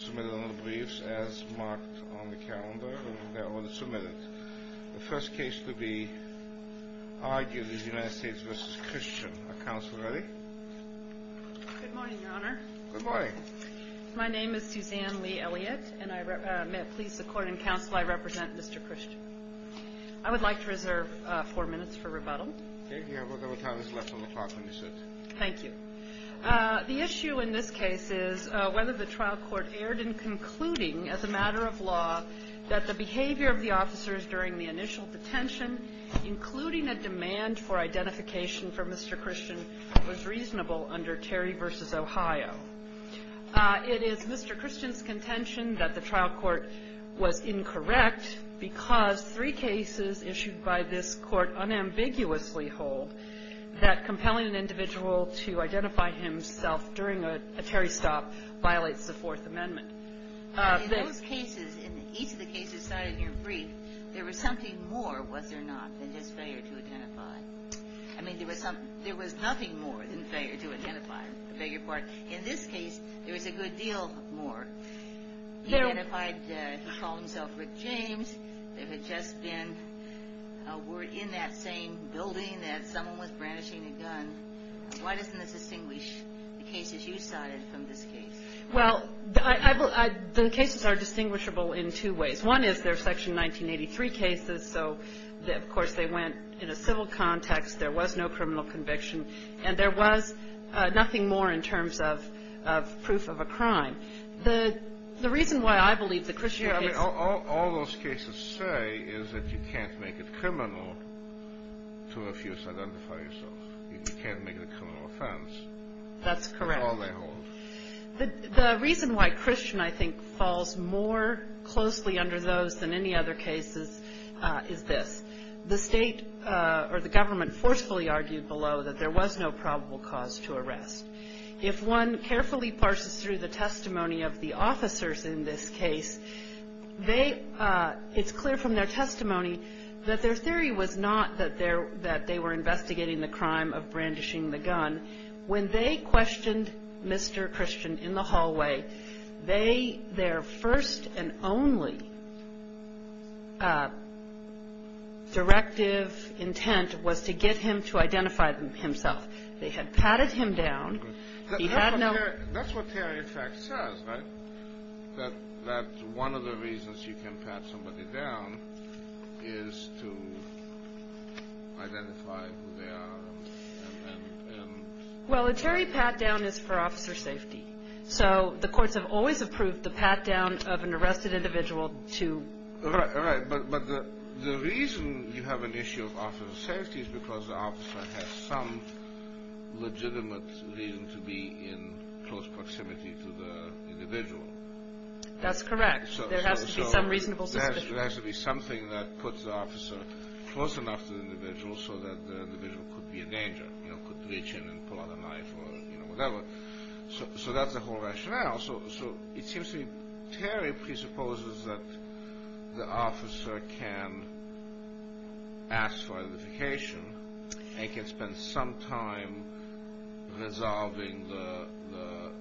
Good morning, Your Honor. Good morning. My name is Suzanne Lee Elliott, and may it please the Court and Counsel, I represent Mr. Christian. I would like to reserve four minutes for rebuttal. Okay. You have whatever time is left on the clock when you sit. Thank you. The issue in this case is whether the trial court erred in concluding, as a matter of law, that the behavior of the officers during the initial detention, including a demand for identification for Mr. Christian, was reasonable under Terry v. Ohio. It is Mr. Christian's contention that the trial court was incorrect because three cases issued by this Court unambiguously hold that compelling an individual to identify himself during a Terry stop violates the Fourth Amendment. In those cases, in each of the cases cited in your brief, there was something more, was there not, than just failure to identify? I mean, there was nothing more than failure to identify. I beg your pardon. In this case, there was a good deal more. He identified, he called himself Rick James. There had just been a word in that same building that someone was brandishing a gun. Why doesn't this distinguish the cases you cited from this case? Well, the cases are distinguishable in two ways. One is they're Section 1983 cases, so of course they went in a civil context. There was no criminal conviction, and there was nothing more in terms of proof of a crime. The reason why I believe the Christian case... I mean, all those cases say is that you can't make it criminal to refuse to identify yourself. You can't make it a criminal offense. That's correct. That's all they hold. The reason why Christian, I think, falls more closely under those than any other cases is this. The state or the government forcefully argued below that there was no probable cause to arrest. If one carefully parses through the testimony of the officers in this case, they... It's clear from their testimony that their theory was not that they were investigating the crime of brandishing the gun. When they questioned Mr. Christian in the hallway, their first and only directive intent was to get him to identify himself. They had patted him down. He had no... Well, a Terry pat-down is for officer safety, so the courts have always approved the pat-down of an arrested individual to... Right, but the reason you have an issue of officer safety is because the officer has some legitimate reason to be in close proximity to the individual. That's correct. There has to be some reasonable suspicion. There has to be something that puts the officer close enough to the individual so that the individual could be in danger, could reach in and pull out a knife or whatever. So that's the whole rationale. So it seems to me Terry presupposes that the officer can ask for identification and can spend some time resolving the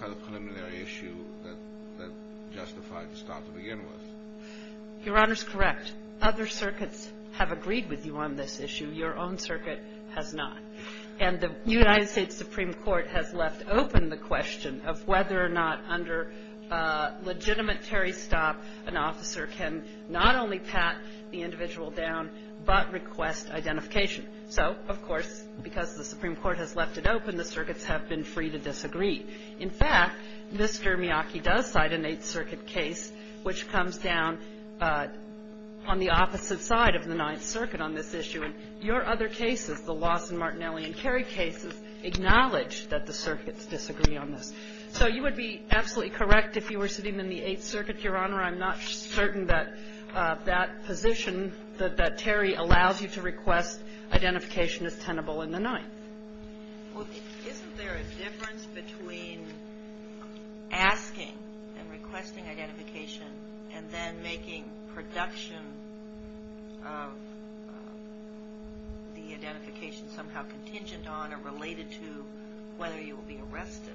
kind of preliminary issue that justified the stop to begin with. Your Honor's correct. Other circuits have agreed with you on this issue. Your own circuit has not. And the United States Supreme Court has left open the question of whether or not under legitimate Terry's stop, an officer can not only pat the individual down but request identification. So, of course, because the Supreme Court has left it open, the circuits have been free to disagree. In fact, Mr. Miyake does cite an Eighth Circuit case which comes down on the opposite side of the Ninth Circuit on this issue. And your other cases, the Lawson-Martinelli and Kerry cases, acknowledge that the circuits disagree on this. So you would be absolutely correct if you were sitting in the Eighth Circuit, Your Honor. I'm not certain that that position that Terry allows you to request identification is tenable in the Ninth. Well, isn't there a difference between asking and requesting identification and then making production of the identification somehow contingent on or related to whether you will be arrested?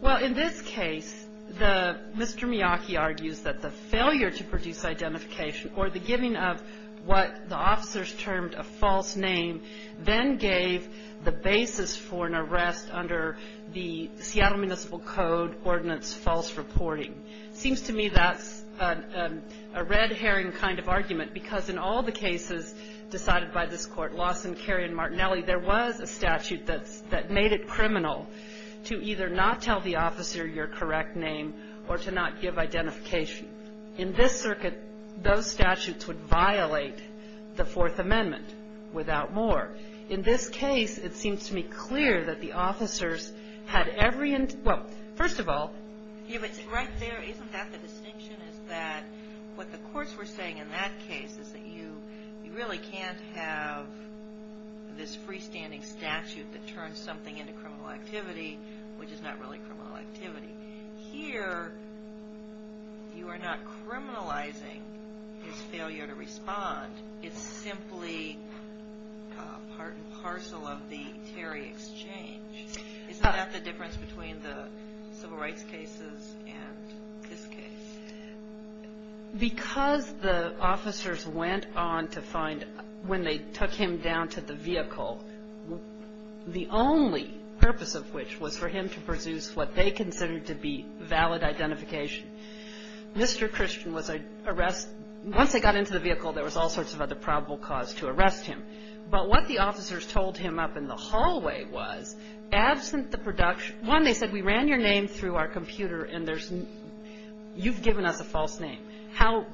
Well, in this case, Mr. Miyake argues that the failure to produce identification or the giving of what the officers termed a false name then gave the basis for an arrest under the Seattle Municipal Code Ordinance false reporting. It seems to me that's a red herring kind of argument because in all the cases decided by this Court, Lawson, Kerry, and Martinelli, there was a statute that made it criminal to either not tell the officer your correct name or to not give identification. In this circuit, those statutes would violate the Fourth Amendment without more. In this case, it seems to me clear that the officers had every ind — well, first of all — Yeah, but right there, isn't that the distinction is that what the courts were saying in that case is that you really can't have this freestanding statute that turns something into criminal activity, which is not really criminal activity. Here, you are not criminalizing his failure to respond. It's simply part and parcel of the Terry exchange. Isn't that the difference between the civil rights cases and this case? Because the officers went on to find, when they took him down to the vehicle, the only purpose of which was for him to pursue what they considered to be valid identification, Mr. Christian was arrested. Once they got into the vehicle, there was all sorts of other probable cause to arrest him. But what the officers told him up in the hallway was, absent the production — one, they said, we ran your name through our computer, and there's — you've given us a false name. How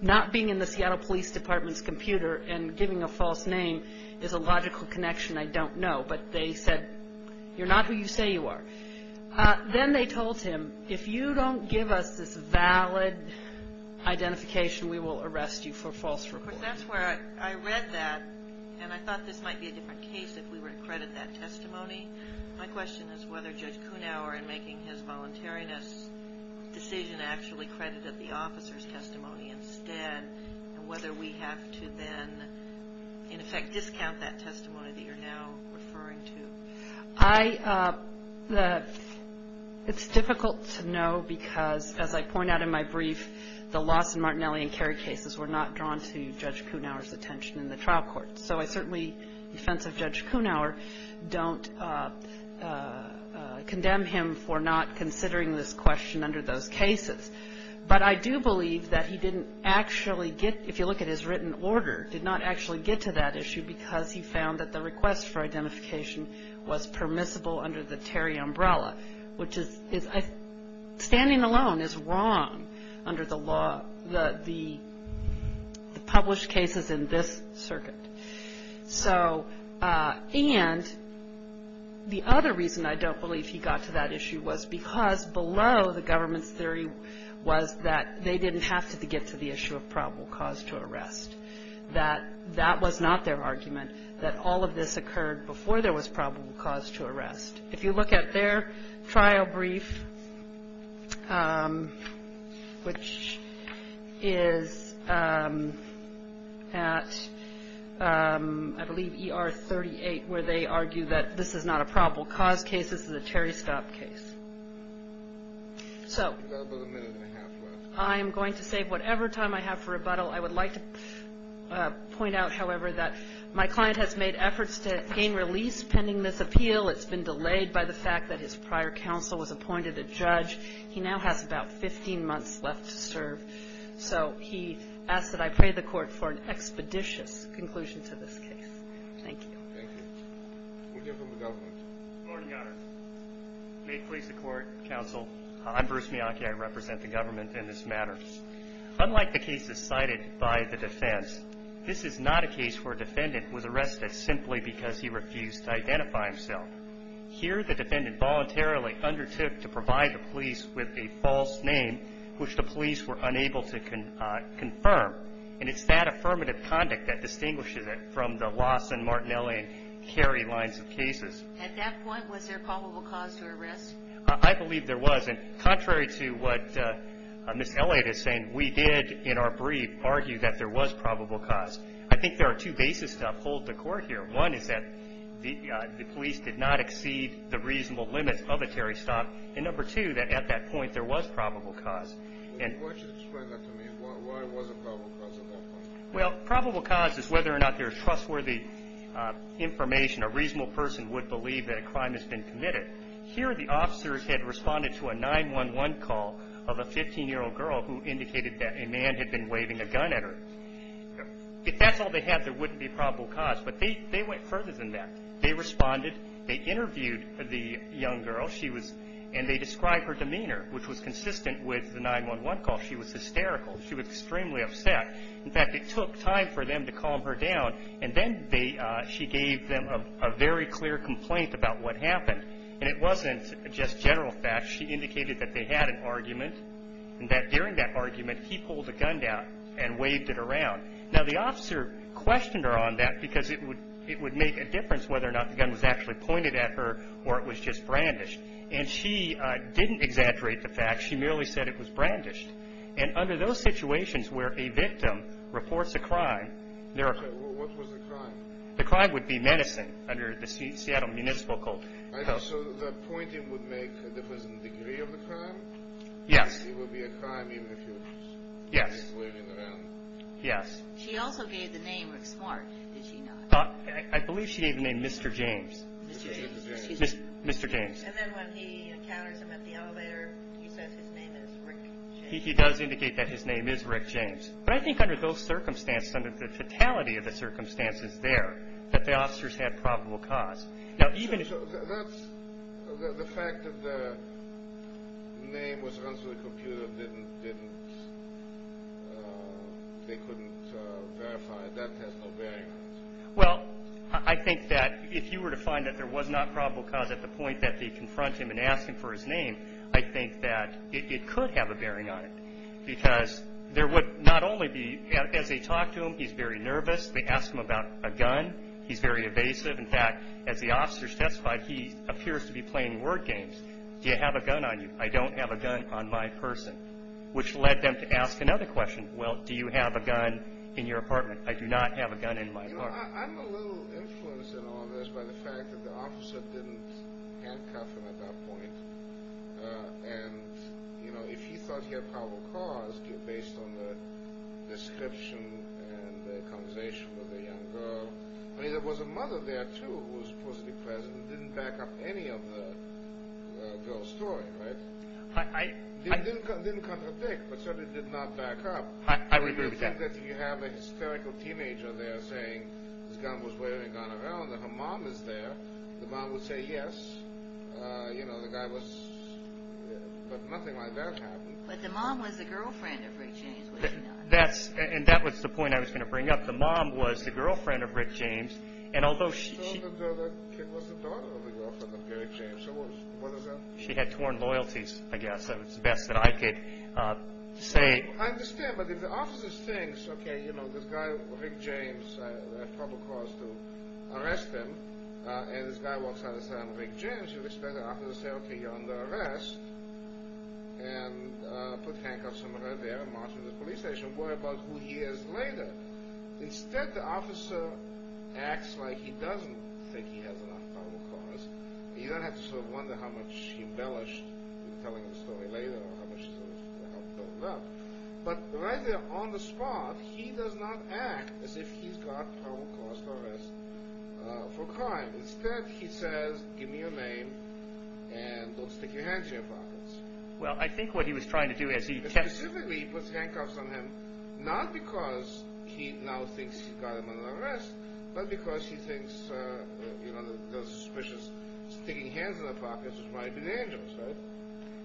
not being in the Seattle Police Department's computer and giving a false name is a logical connection, I don't know. But they said, you're not who you say you are. Then they told him, if you don't give us this valid identification, we will arrest you for false reporting. But that's where I read that, and I thought this might be a different case if we were to credit that testimony. My question is whether Judge Kunawer, in making his voluntariness decision, actually credited the officer's testimony instead, and whether we have to then, in effect, discount that testimony that you're now referring to. I — it's difficult to know because, as I point out in my brief, the Lawson, Martinelli, and Kerry cases were not drawn to Judge Kunawer's attention in the trial court. So I certainly, in defense of Judge Kunawer, don't condemn him for not considering this question under those cases. But I do believe that he didn't actually get — if you look at his written order, did not actually get to that issue because he found that the request for identification was permissible under the Terry umbrella, which is — standing alone is wrong under the law — the published cases in this circuit. So — and the other reason I don't believe he got to that issue was because below the government's theory was that they didn't have to get to the issue of probable cause to arrest, that that was not their argument, that all of this occurred before there was probable cause to arrest. If you look at their trial brief, which is at, I believe, E.R. 38, where they argue that this is not a probable cause case, this is a Terry stop case. So I'm going to save whatever time I have for rebuttal. I would like to point out, however, that my client has made efforts to gain release pending this appeal. It's been delayed by the fact that his prior counsel was appointed a judge. He now has about 15 months left to serve. So he asked that I pray the Court for an expeditious conclusion to this case. Thank you. Thank you. We'll hear from the government. Good morning, Your Honor. May it please the Court, Counsel. I'm Bruce Miyake. I represent the government in this matter. Unlike the cases cited by the defense, this is not a case where a defendant was arrested simply because he refused to identify himself. Here the defendant voluntarily undertook to provide the police with a false name, which the police were unable to confirm. And it's that affirmative conduct that distinguishes it from the Lawson, Martinelli, and Kerry lines of cases. At that point, was there probable cause to arrest? I believe there was. And contrary to what Ms. Elliott is saying, we did, in our brief, argue that there was probable cause. I think there are two bases to uphold the Court here. One is that the police did not exceed the reasonable limits of a Terry stop. And number two, that at that point there was probable cause. Why don't you explain that to me? Why was it probable cause at that point? Well, probable cause is whether or not there is trustworthy information, a reasonable person would believe that a crime has been committed. Here the officers had responded to a 911 call of a 15-year-old girl who indicated that a man had been waving a gun at her. If that's all they had, there wouldn't be probable cause. But they went further than that. They responded. They interviewed the young girl. And they described her demeanor, which was consistent with the 911 call. She was hysterical. She was extremely upset. In fact, it took time for them to calm her down. And then she gave them a very clear complaint about what happened. And it wasn't just general facts. She indicated that they had an argument and that during that argument, he pulled a gun out and waved it around. Now, the officer questioned her on that because it would make a difference whether or not the gun was actually pointed at her or it was just brandished. And she didn't exaggerate the fact. She merely said it was brandished. And under those situations where a victim reports a crime, there are – Okay. What was the crime? The crime would be menacing under the Seattle Municipal Code. So the pointing would make a difference in the degree of the crime? Yes. It would be a crime even if you were waving it around? Yes. She also gave the name Rick Smart, did she not? I believe she gave the name Mr. James. Mr. James. Mr. James. And then when he encounters him at the elevator, he says his name is Rick James. He does indicate that his name is Rick James. But I think under those circumstances, under the fatality of the circumstances there, that the officers had probable cause. So the fact that the name was run through the computer didn't – they couldn't verify it, that has no bearing on it? Well, I think that if you were to find that there was not probable cause at the point that they confront him and ask him for his name, I think that it could have a bearing on it because there would not only be – as they talk to him, he's very nervous. They ask him about a gun. He's very evasive. In fact, as the officer testified, he appears to be playing word games. Do you have a gun on you? I don't have a gun on my person, which led them to ask another question. Well, do you have a gun in your apartment? I do not have a gun in my apartment. I'm a little influenced in all this by the fact that the officer didn't handcuff him at that point. And, you know, if he thought he had probable cause, based on the description and the conversation with the young girl, I mean, there was a mother there, too, who was supposedly present and didn't back up any of the girl's story, right? I – Didn't contradict, but certainly did not back up. I would agree with that. If you have a hysterical teenager there saying his gun was wearing a gun around and her mom was there, the mom would say yes. You know, the guy was – but nothing like that happened. But the mom was the girlfriend of Rick James, wasn't she? That's – and that was the point I was going to bring up. The mom was the girlfriend of Rick James, and although she – She was the daughter of the girlfriend of Rick James. What is that? She had torn loyalties, I guess. That was the best that I could say. I understand. But if the officer thinks, okay, you know, this guy, Rick James, had probable cause to arrest him, and this guy walks out and says, I'm Rick James, you expect the officer to say, okay, you're under arrest, and put handcuffs around there and march to the police station, and you worry about who he is later. Instead, the officer acts like he doesn't think he has enough probable cause. You don't have to sort of wonder how much he embellished in telling the story later or how much sort of helped build it up. But right there on the spot, he does not act as if he's got probable cause to arrest for crime. Instead, he says, give me your name and don't stick your hands in your pockets. Well, I think what he was trying to do as he – specifically, he puts handcuffs on him not because he now thinks he got him under arrest, but because he thinks, you know, those suspicious sticking hands in their pockets might be dangerous, right?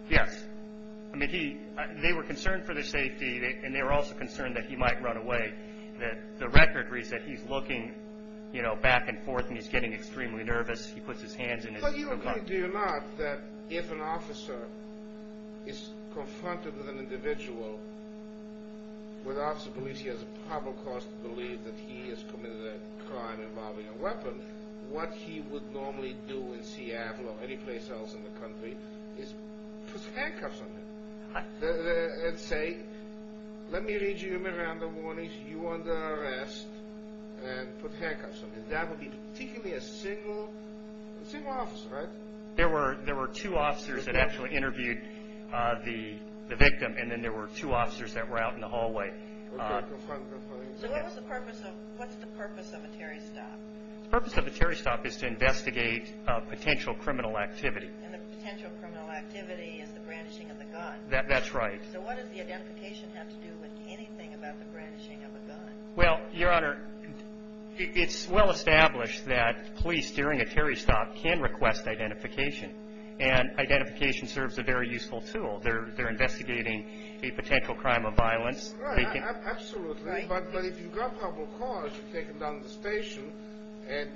Yes. I mean, they were concerned for their safety, and they were also concerned that he might run away. The record reads that he's looking, you know, back and forth, and he's getting extremely nervous. He puts his hands in his pockets. But you agree, do you not, that if an officer is confronted with an individual where the officer believes he has a probable cause to believe that he has committed a crime involving a weapon, what he would normally do in Seattle or any place else in the country is put handcuffs on him and say, let me read you Miranda warnings. You're under arrest. And put handcuffs on him. That would be particularly a single officer, right? There were two officers that actually interviewed the victim, and then there were two officers that were out in the hallway. So what's the purpose of a Terry stop? The purpose of a Terry stop is to investigate potential criminal activity. And the potential criminal activity is the brandishing of the gun. That's right. So what does the identification have to do with anything about the brandishing of a gun? Well, Your Honor, it's well established that police during a Terry stop can request identification, and identification serves a very useful tool. They're investigating a potential crime of violence. Right, absolutely. But if you've got probable cause, you take them down to the station, and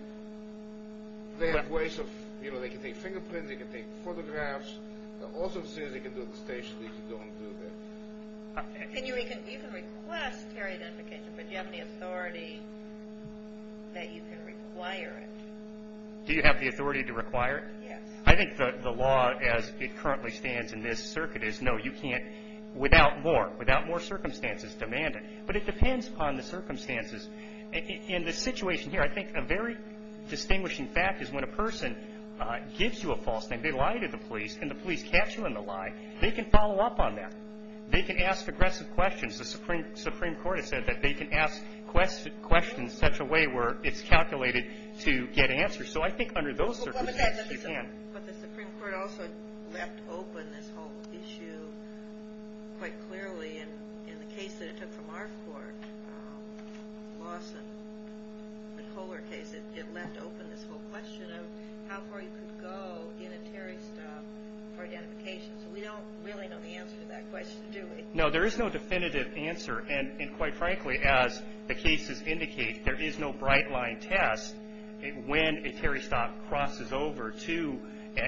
they have ways of, you know, they can take fingerprints, they can take photographs. The officer says they can do it at the station. They don't do that. You can request Terry identification, but you have the authority that you can require it. Do you have the authority to require it? Yes. I think the law as it currently stands in this circuit is no, you can't without more. Without more circumstances demand it. But it depends upon the circumstances. In this situation here, I think a very distinguishing fact is when a person gives you a false name, and they lie to the police, and the police catch them in the lie, they can follow up on that. They can ask aggressive questions. The Supreme Court has said that they can ask questions in such a way where it's calculated to get answers. So I think under those circumstances you can. But the Supreme Court also left open this whole issue quite clearly in the case that it took from our court, Lawson, the Kohler case, it left open this whole question of how far you could go in a Terry stop for identification. So we don't really know the answer to that question, do we? No, there is no definitive answer. And quite frankly, as the cases indicate, there is no bright-line test when a Terry stop crosses over to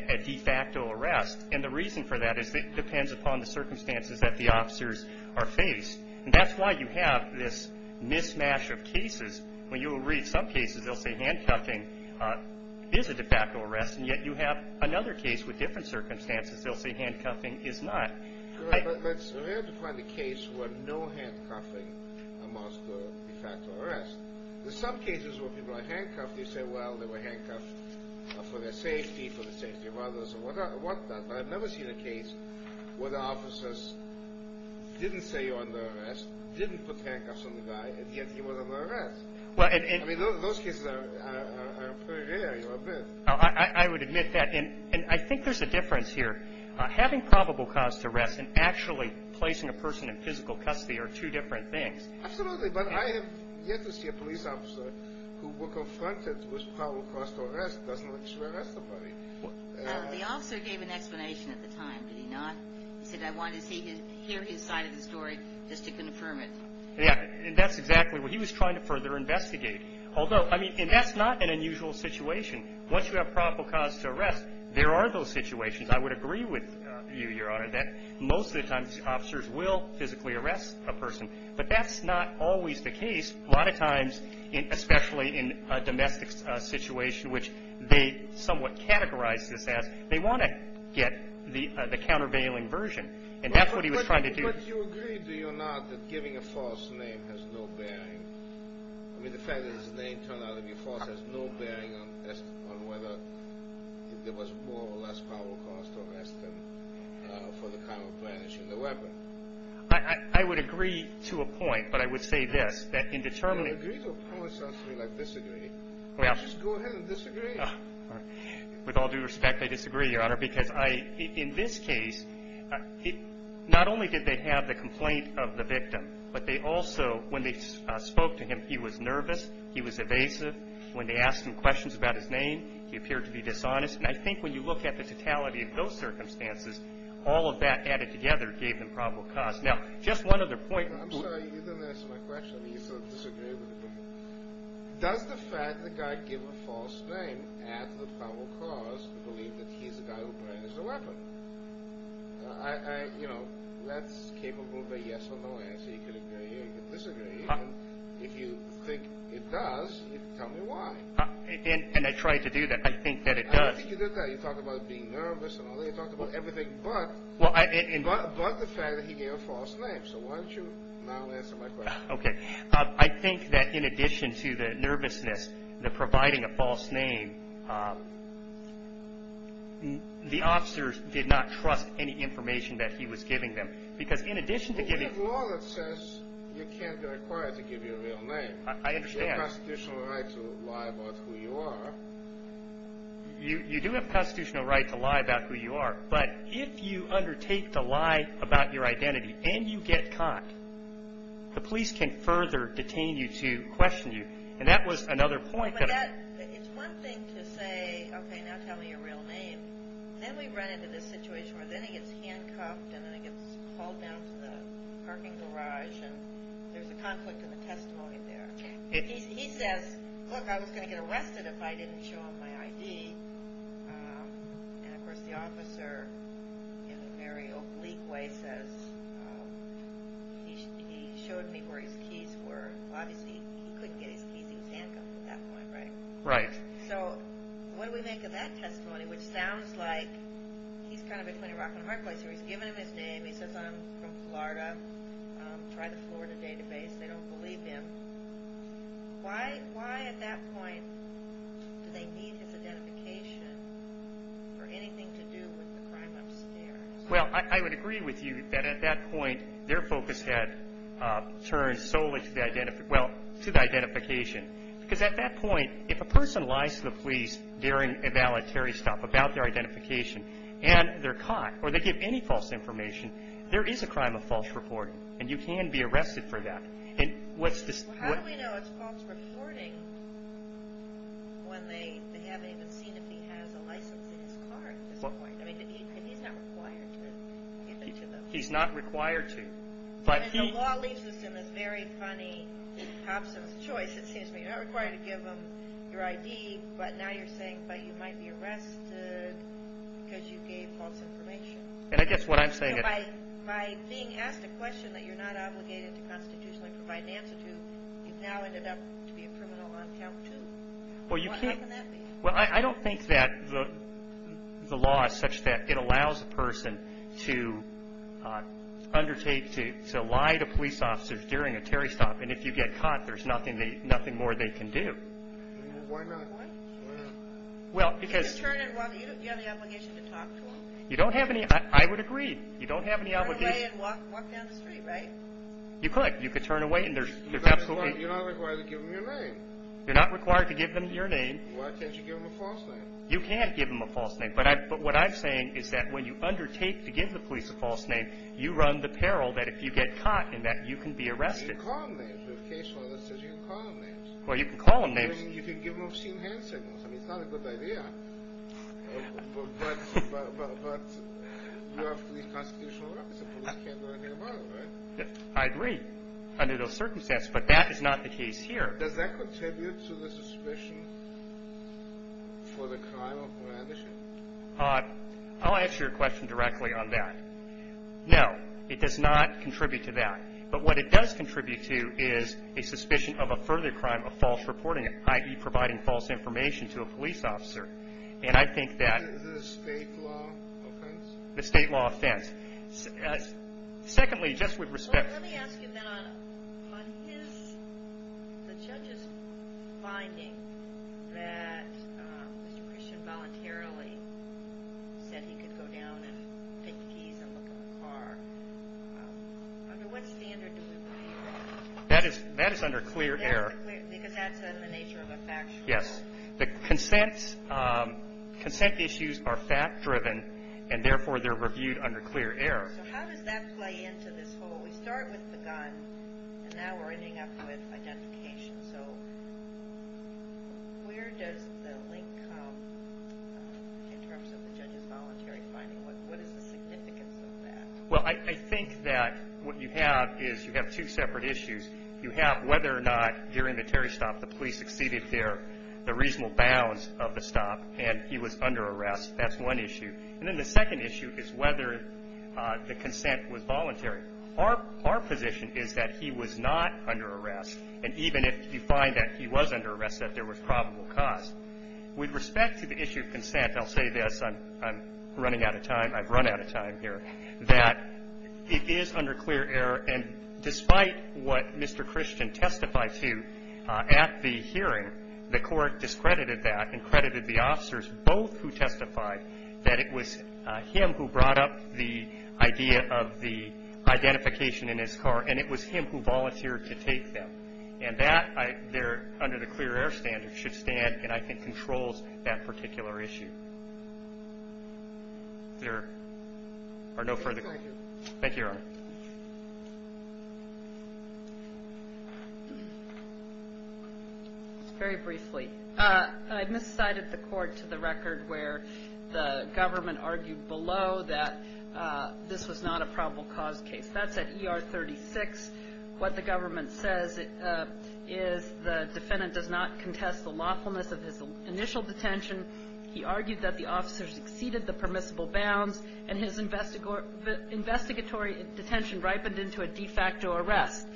a de facto arrest. And the reason for that is it depends upon the circumstances that the officers are faced. And that's why you have this mismatch of cases. When you read some cases, they'll say handcuffing is a de facto arrest, and yet you have another case with different circumstances. They'll say handcuffing is not. But it's rare to find a case where no handcuffing amounts to a de facto arrest. There's some cases where people are handcuffed. They say, well, they were handcuffed for their safety, for the safety of others, or what not. But I've never seen a case where the officers didn't say you're under arrest, didn't put handcuffs on the guy, and yet he was under arrest. I mean, those cases are pretty rare, you'll admit. I would admit that. And I think there's a difference here. Having probable cause to arrest and actually placing a person in physical custody are two different things. Absolutely. But I have yet to see a police officer who were confronted with probable cause to arrest doesn't actually arrest somebody. The officer gave an explanation at the time, did he not? He said I wanted to hear his side of the story just to confirm it. Yeah, and that's exactly what he was trying to further investigate. Although, I mean, and that's not an unusual situation. Once you have probable cause to arrest, there are those situations. I would agree with you, Your Honor, that most of the times officers will physically arrest a person. But that's not always the case. A lot of times, especially in a domestic situation, which they somewhat categorize this as, they want to get the countervailing version. And that's what he was trying to do. But you agree, do you not, that giving a false name has no bearing? I mean, the fact that his name turned out to be false has no bearing on whether there was more or less probable cause to arrest him for the crime of banishing the weapon. I would agree to a point, but I would say this, that in determining... You don't agree to a point, sir, like disagree. Well... Just go ahead and disagree. With all due respect, I disagree, Your Honor, because I, in this case, not only did they have the complaint of the victim, but they also, when they spoke to him, he was nervous, he was evasive. When they asked him questions about his name, he appeared to be dishonest. And I think when you look at the totality of those circumstances, all of that added together gave them probable cause. Now, just one other point... I'm sorry. You didn't answer my question. You said disagree with the complaint. Does the fact that the guy gave a false name add to the probable cause to believe that he's the guy who burned the weapon? You know, that's capable of a yes or no answer. You can agree or you can disagree. If you think it does, tell me why. And I tried to do that. I think that it does. I don't think you did that. You talked about being nervous and all that. You talked about everything but the fact that he gave a false name. So why don't you now answer my question? Okay. I think that in addition to the nervousness, the providing a false name, the officers did not trust any information that he was giving them. Because in addition to giving... Well, we have law that says you can't be required to give your real name. I understand. You have constitutional right to lie about who you are. You do have constitutional right to lie about who you are. But if you undertake to lie about your identity and you get caught, the police can further detain you to question you. And that was another point that... It's one thing to say, okay, now tell me your real name. Then we run into this situation where then he gets handcuffed and then he gets hauled down to the parking garage and there's a conflict in the testimony there. He says, look, I was going to get arrested if I didn't show him my ID. And, of course, the officer in a very oblique way says he showed me where his keys were. Obviously, he couldn't get his keys. He was handcuffed at that point, right? Right. So what do we make of that testimony, which sounds like he's kind of between a rock and a hard place here. He's given him his name. He says, I'm from Florida. Try the Florida database. They don't believe him. Why at that point do they need his identification for anything to do with the crime upstairs? Well, I would agree with you that at that point their focus had turned solely to the identification. Because at that point, if a person lies to the police during a voluntary stop about their identification and they're caught or they give any false information, there is a crime of false reporting and you can be arrested for that. How do we know it's false reporting when they haven't even seen if he has a license in his car at this point? I mean, he's not required to give it to them. He's not required to. I mean, the law leaves us in this very funny hops of a choice. It seems to me you're not required to give them your ID, but now you're saying, but you might be arrested because you gave false information. And I guess what I'm saying is by being asked a question that you're not obligated to constitutionally provide an answer to, you've now ended up to be a criminal on count two. How can that be? Well, I don't think that the law is such that it allows a person to undertake to lie to police officers during a Terry stop. And if you get caught, there's nothing more they can do. Why not? Well, because. You don't have the obligation to talk to them. You don't have any. I would agree. You don't have any obligation. Turn away and walk down the street, right? You could. You could turn away and there's absolutely. You're not required to give them your name. You're not required to give them your name. Why can't you give them a false name? You can't give them a false name. But what I'm saying is that when you undertake to give the police a false name, you run the peril that if you get caught in that, you can be arrested. You can call them names. We have a case law that says you can call them names. Well, you can call them names. I mean, you can give them obscene hand signals. I mean, it's not a good idea. But you are a police constitutional officer. Police can't do anything about it, right? I agree under those circumstances, but that is not the case here. Does that contribute to the suspicion for the crime of brandishing? I'll answer your question directly on that. No, it does not contribute to that. But what it does contribute to is a suspicion of a further crime of false reporting, i.e., providing false information to a police officer. And I think that. Is it a state law offense? A state law offense. Secondly, just with respect. Let me ask you then on the judge's finding that Mr. Christian voluntarily said he could go down and take the keys and look in the car. Under what standard do we review? That is under clear error. Because that's the nature of a factual rule. Yes. The consent issues are fact-driven, and therefore they're reviewed under clear error. So how does that play into this whole? We start with the gun, and now we're ending up with identification. So where does the link come in terms of the judge's voluntary finding? What is the significance of that? Well, I think that what you have is you have two separate issues. You have whether or not during the Terry stop the police exceeded the reasonable bounds of the stop and he was under arrest. That's one issue. And then the second issue is whether the consent was voluntary. Our position is that he was not under arrest, and even if you find that he was under arrest, that there was probable cause. With respect to the issue of consent, I'll say this. I'm running out of time. I've run out of time here. That it is under clear error, and despite what Mr. Christian testified to at the hearing, the Court discredited that and credited the officers, both who testified that it was him who brought up the idea of the identification in his car, and it was him who volunteered to take them. And that there, under the clear error standard, should stand and I think controls that particular issue. There are no further questions. Thank you, Your Honor. Very briefly. I miscited the court to the record where the government argued below that this was not a probable cause case. That's at ER 36. What the government says is the defendant does not contest the lawfulness of his initial detention. He argued that the officers exceeded the permissible bounds, and his investigatory detention ripened into a de facto arrest.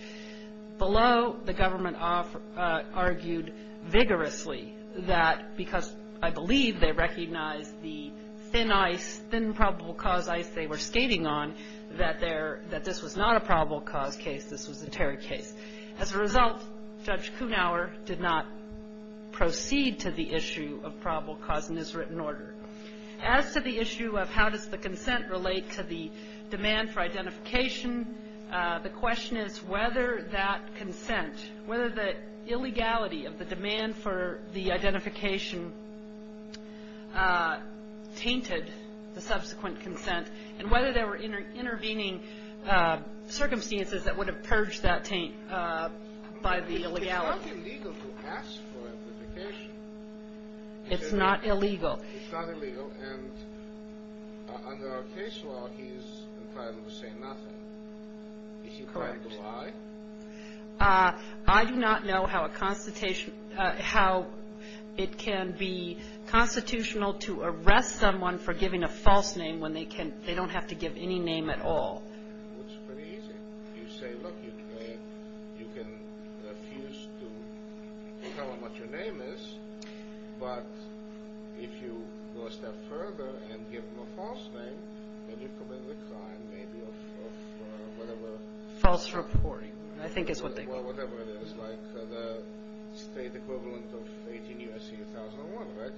Below, the government argued vigorously that because I believe they recognized the thin ice, thin probable cause ice they were skating on, that this was not a probable cause case. This was a terror case. As a result, Judge Kunawer did not proceed to the issue of probable cause in his written order. As to the issue of how does the consent relate to the demand for identification, the question is whether that consent, whether the illegality of the demand for the identification tainted the subsequent by the illegality. It's not illegal to ask for identification. It's not illegal. It's not illegal, and under our case law, he's entitled to say nothing. Is he entitled to lie? I do not know how it can be constitutional to arrest someone for giving a false name when they don't have to give any name at all. It's pretty easy. You say, look, you can refuse to tell them what your name is, but if you go a step further and give them a false name, then you commit a crime maybe of whatever. False reporting, I think is what they call it. Well, whatever it is, like the state equivalent of 18 U.S.C. 1001, right?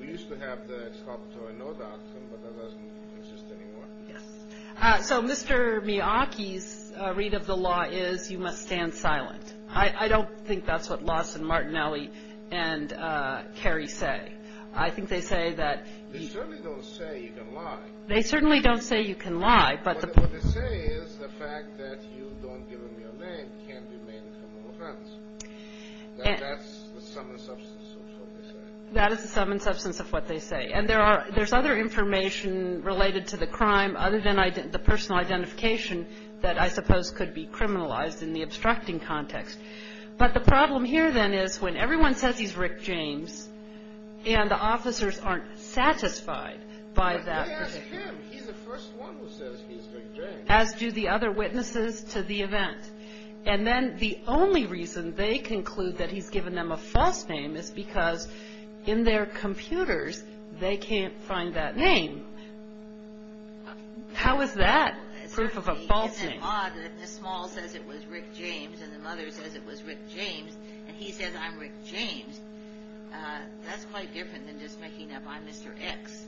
We used to have the Excavatory Note Act, but that doesn't exist anymore. Yes. So Mr. Miyake's read of the law is you must stand silent. I don't think that's what Lawson, Martinelli, and Kerry say. I think they say that the ---- They certainly don't say you can lie. They certainly don't say you can lie, but the ---- What they say is the fact that you don't give them your name can't be made a criminal offense. That's the sum and substance of what they say. That is the sum and substance of what they say. And there's other information related to the crime other than the personal identification that I suppose could be criminalized in the obstructing context. But the problem here, then, is when everyone says he's Rick James and the officers aren't satisfied by that ---- But ask him. He's the first one who says he's Rick James. As do the other witnesses to the event. And then the only reason they conclude that he's given them a false name is because in their computers they can't find that name. How is that proof of a false name? The small says it was Rick James and the mother says it was Rick James and he says I'm Rick James. That's quite different than just making up I'm Mr. X.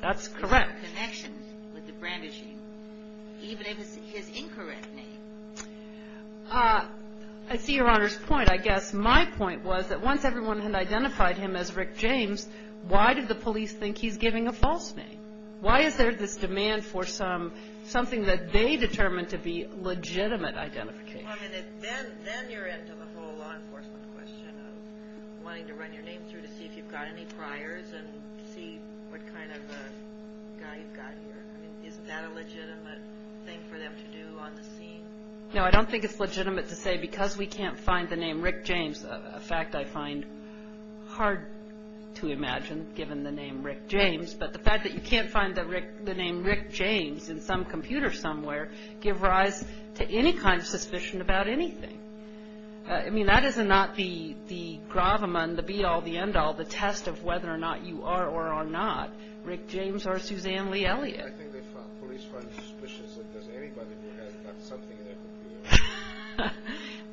That's correct. There's no connection with the brandishing, even if it's his incorrect name. I see Your Honor's point. But I guess my point was that once everyone had identified him as Rick James, why did the police think he's giving a false name? Why is there this demand for something that they determined to be legitimate identification? Then you're into the whole law enforcement question of wanting to run your name through to see if you've got any priors and see what kind of guy you've got here. Isn't that a legitimate thing for them to do on the scene? No, I don't think it's legitimate to say because we can't find the name Rick James, a fact I find hard to imagine given the name Rick James, but the fact that you can't find the name Rick James in some computer somewhere give rise to any kind of suspicion about anything. I mean, that is not the gravamund, the be-all, the end-all, the test of whether or not you are or are not Rick James or Suzanne Lee Elliott. I think the police find it suspicious that there's anybody who has got something in their computer.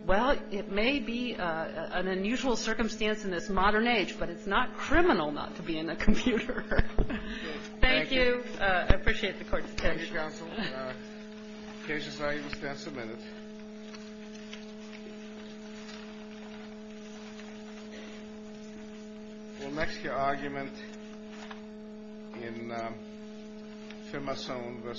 Well, it may be an unusual circumstance in this modern age, but it's not criminal not to be in a computer. Thank you. I appreciate the Court's attention. Thank you, Counsel. The case is now in its tenth minute. We'll next hear argument in Firmasone v. Bonhart.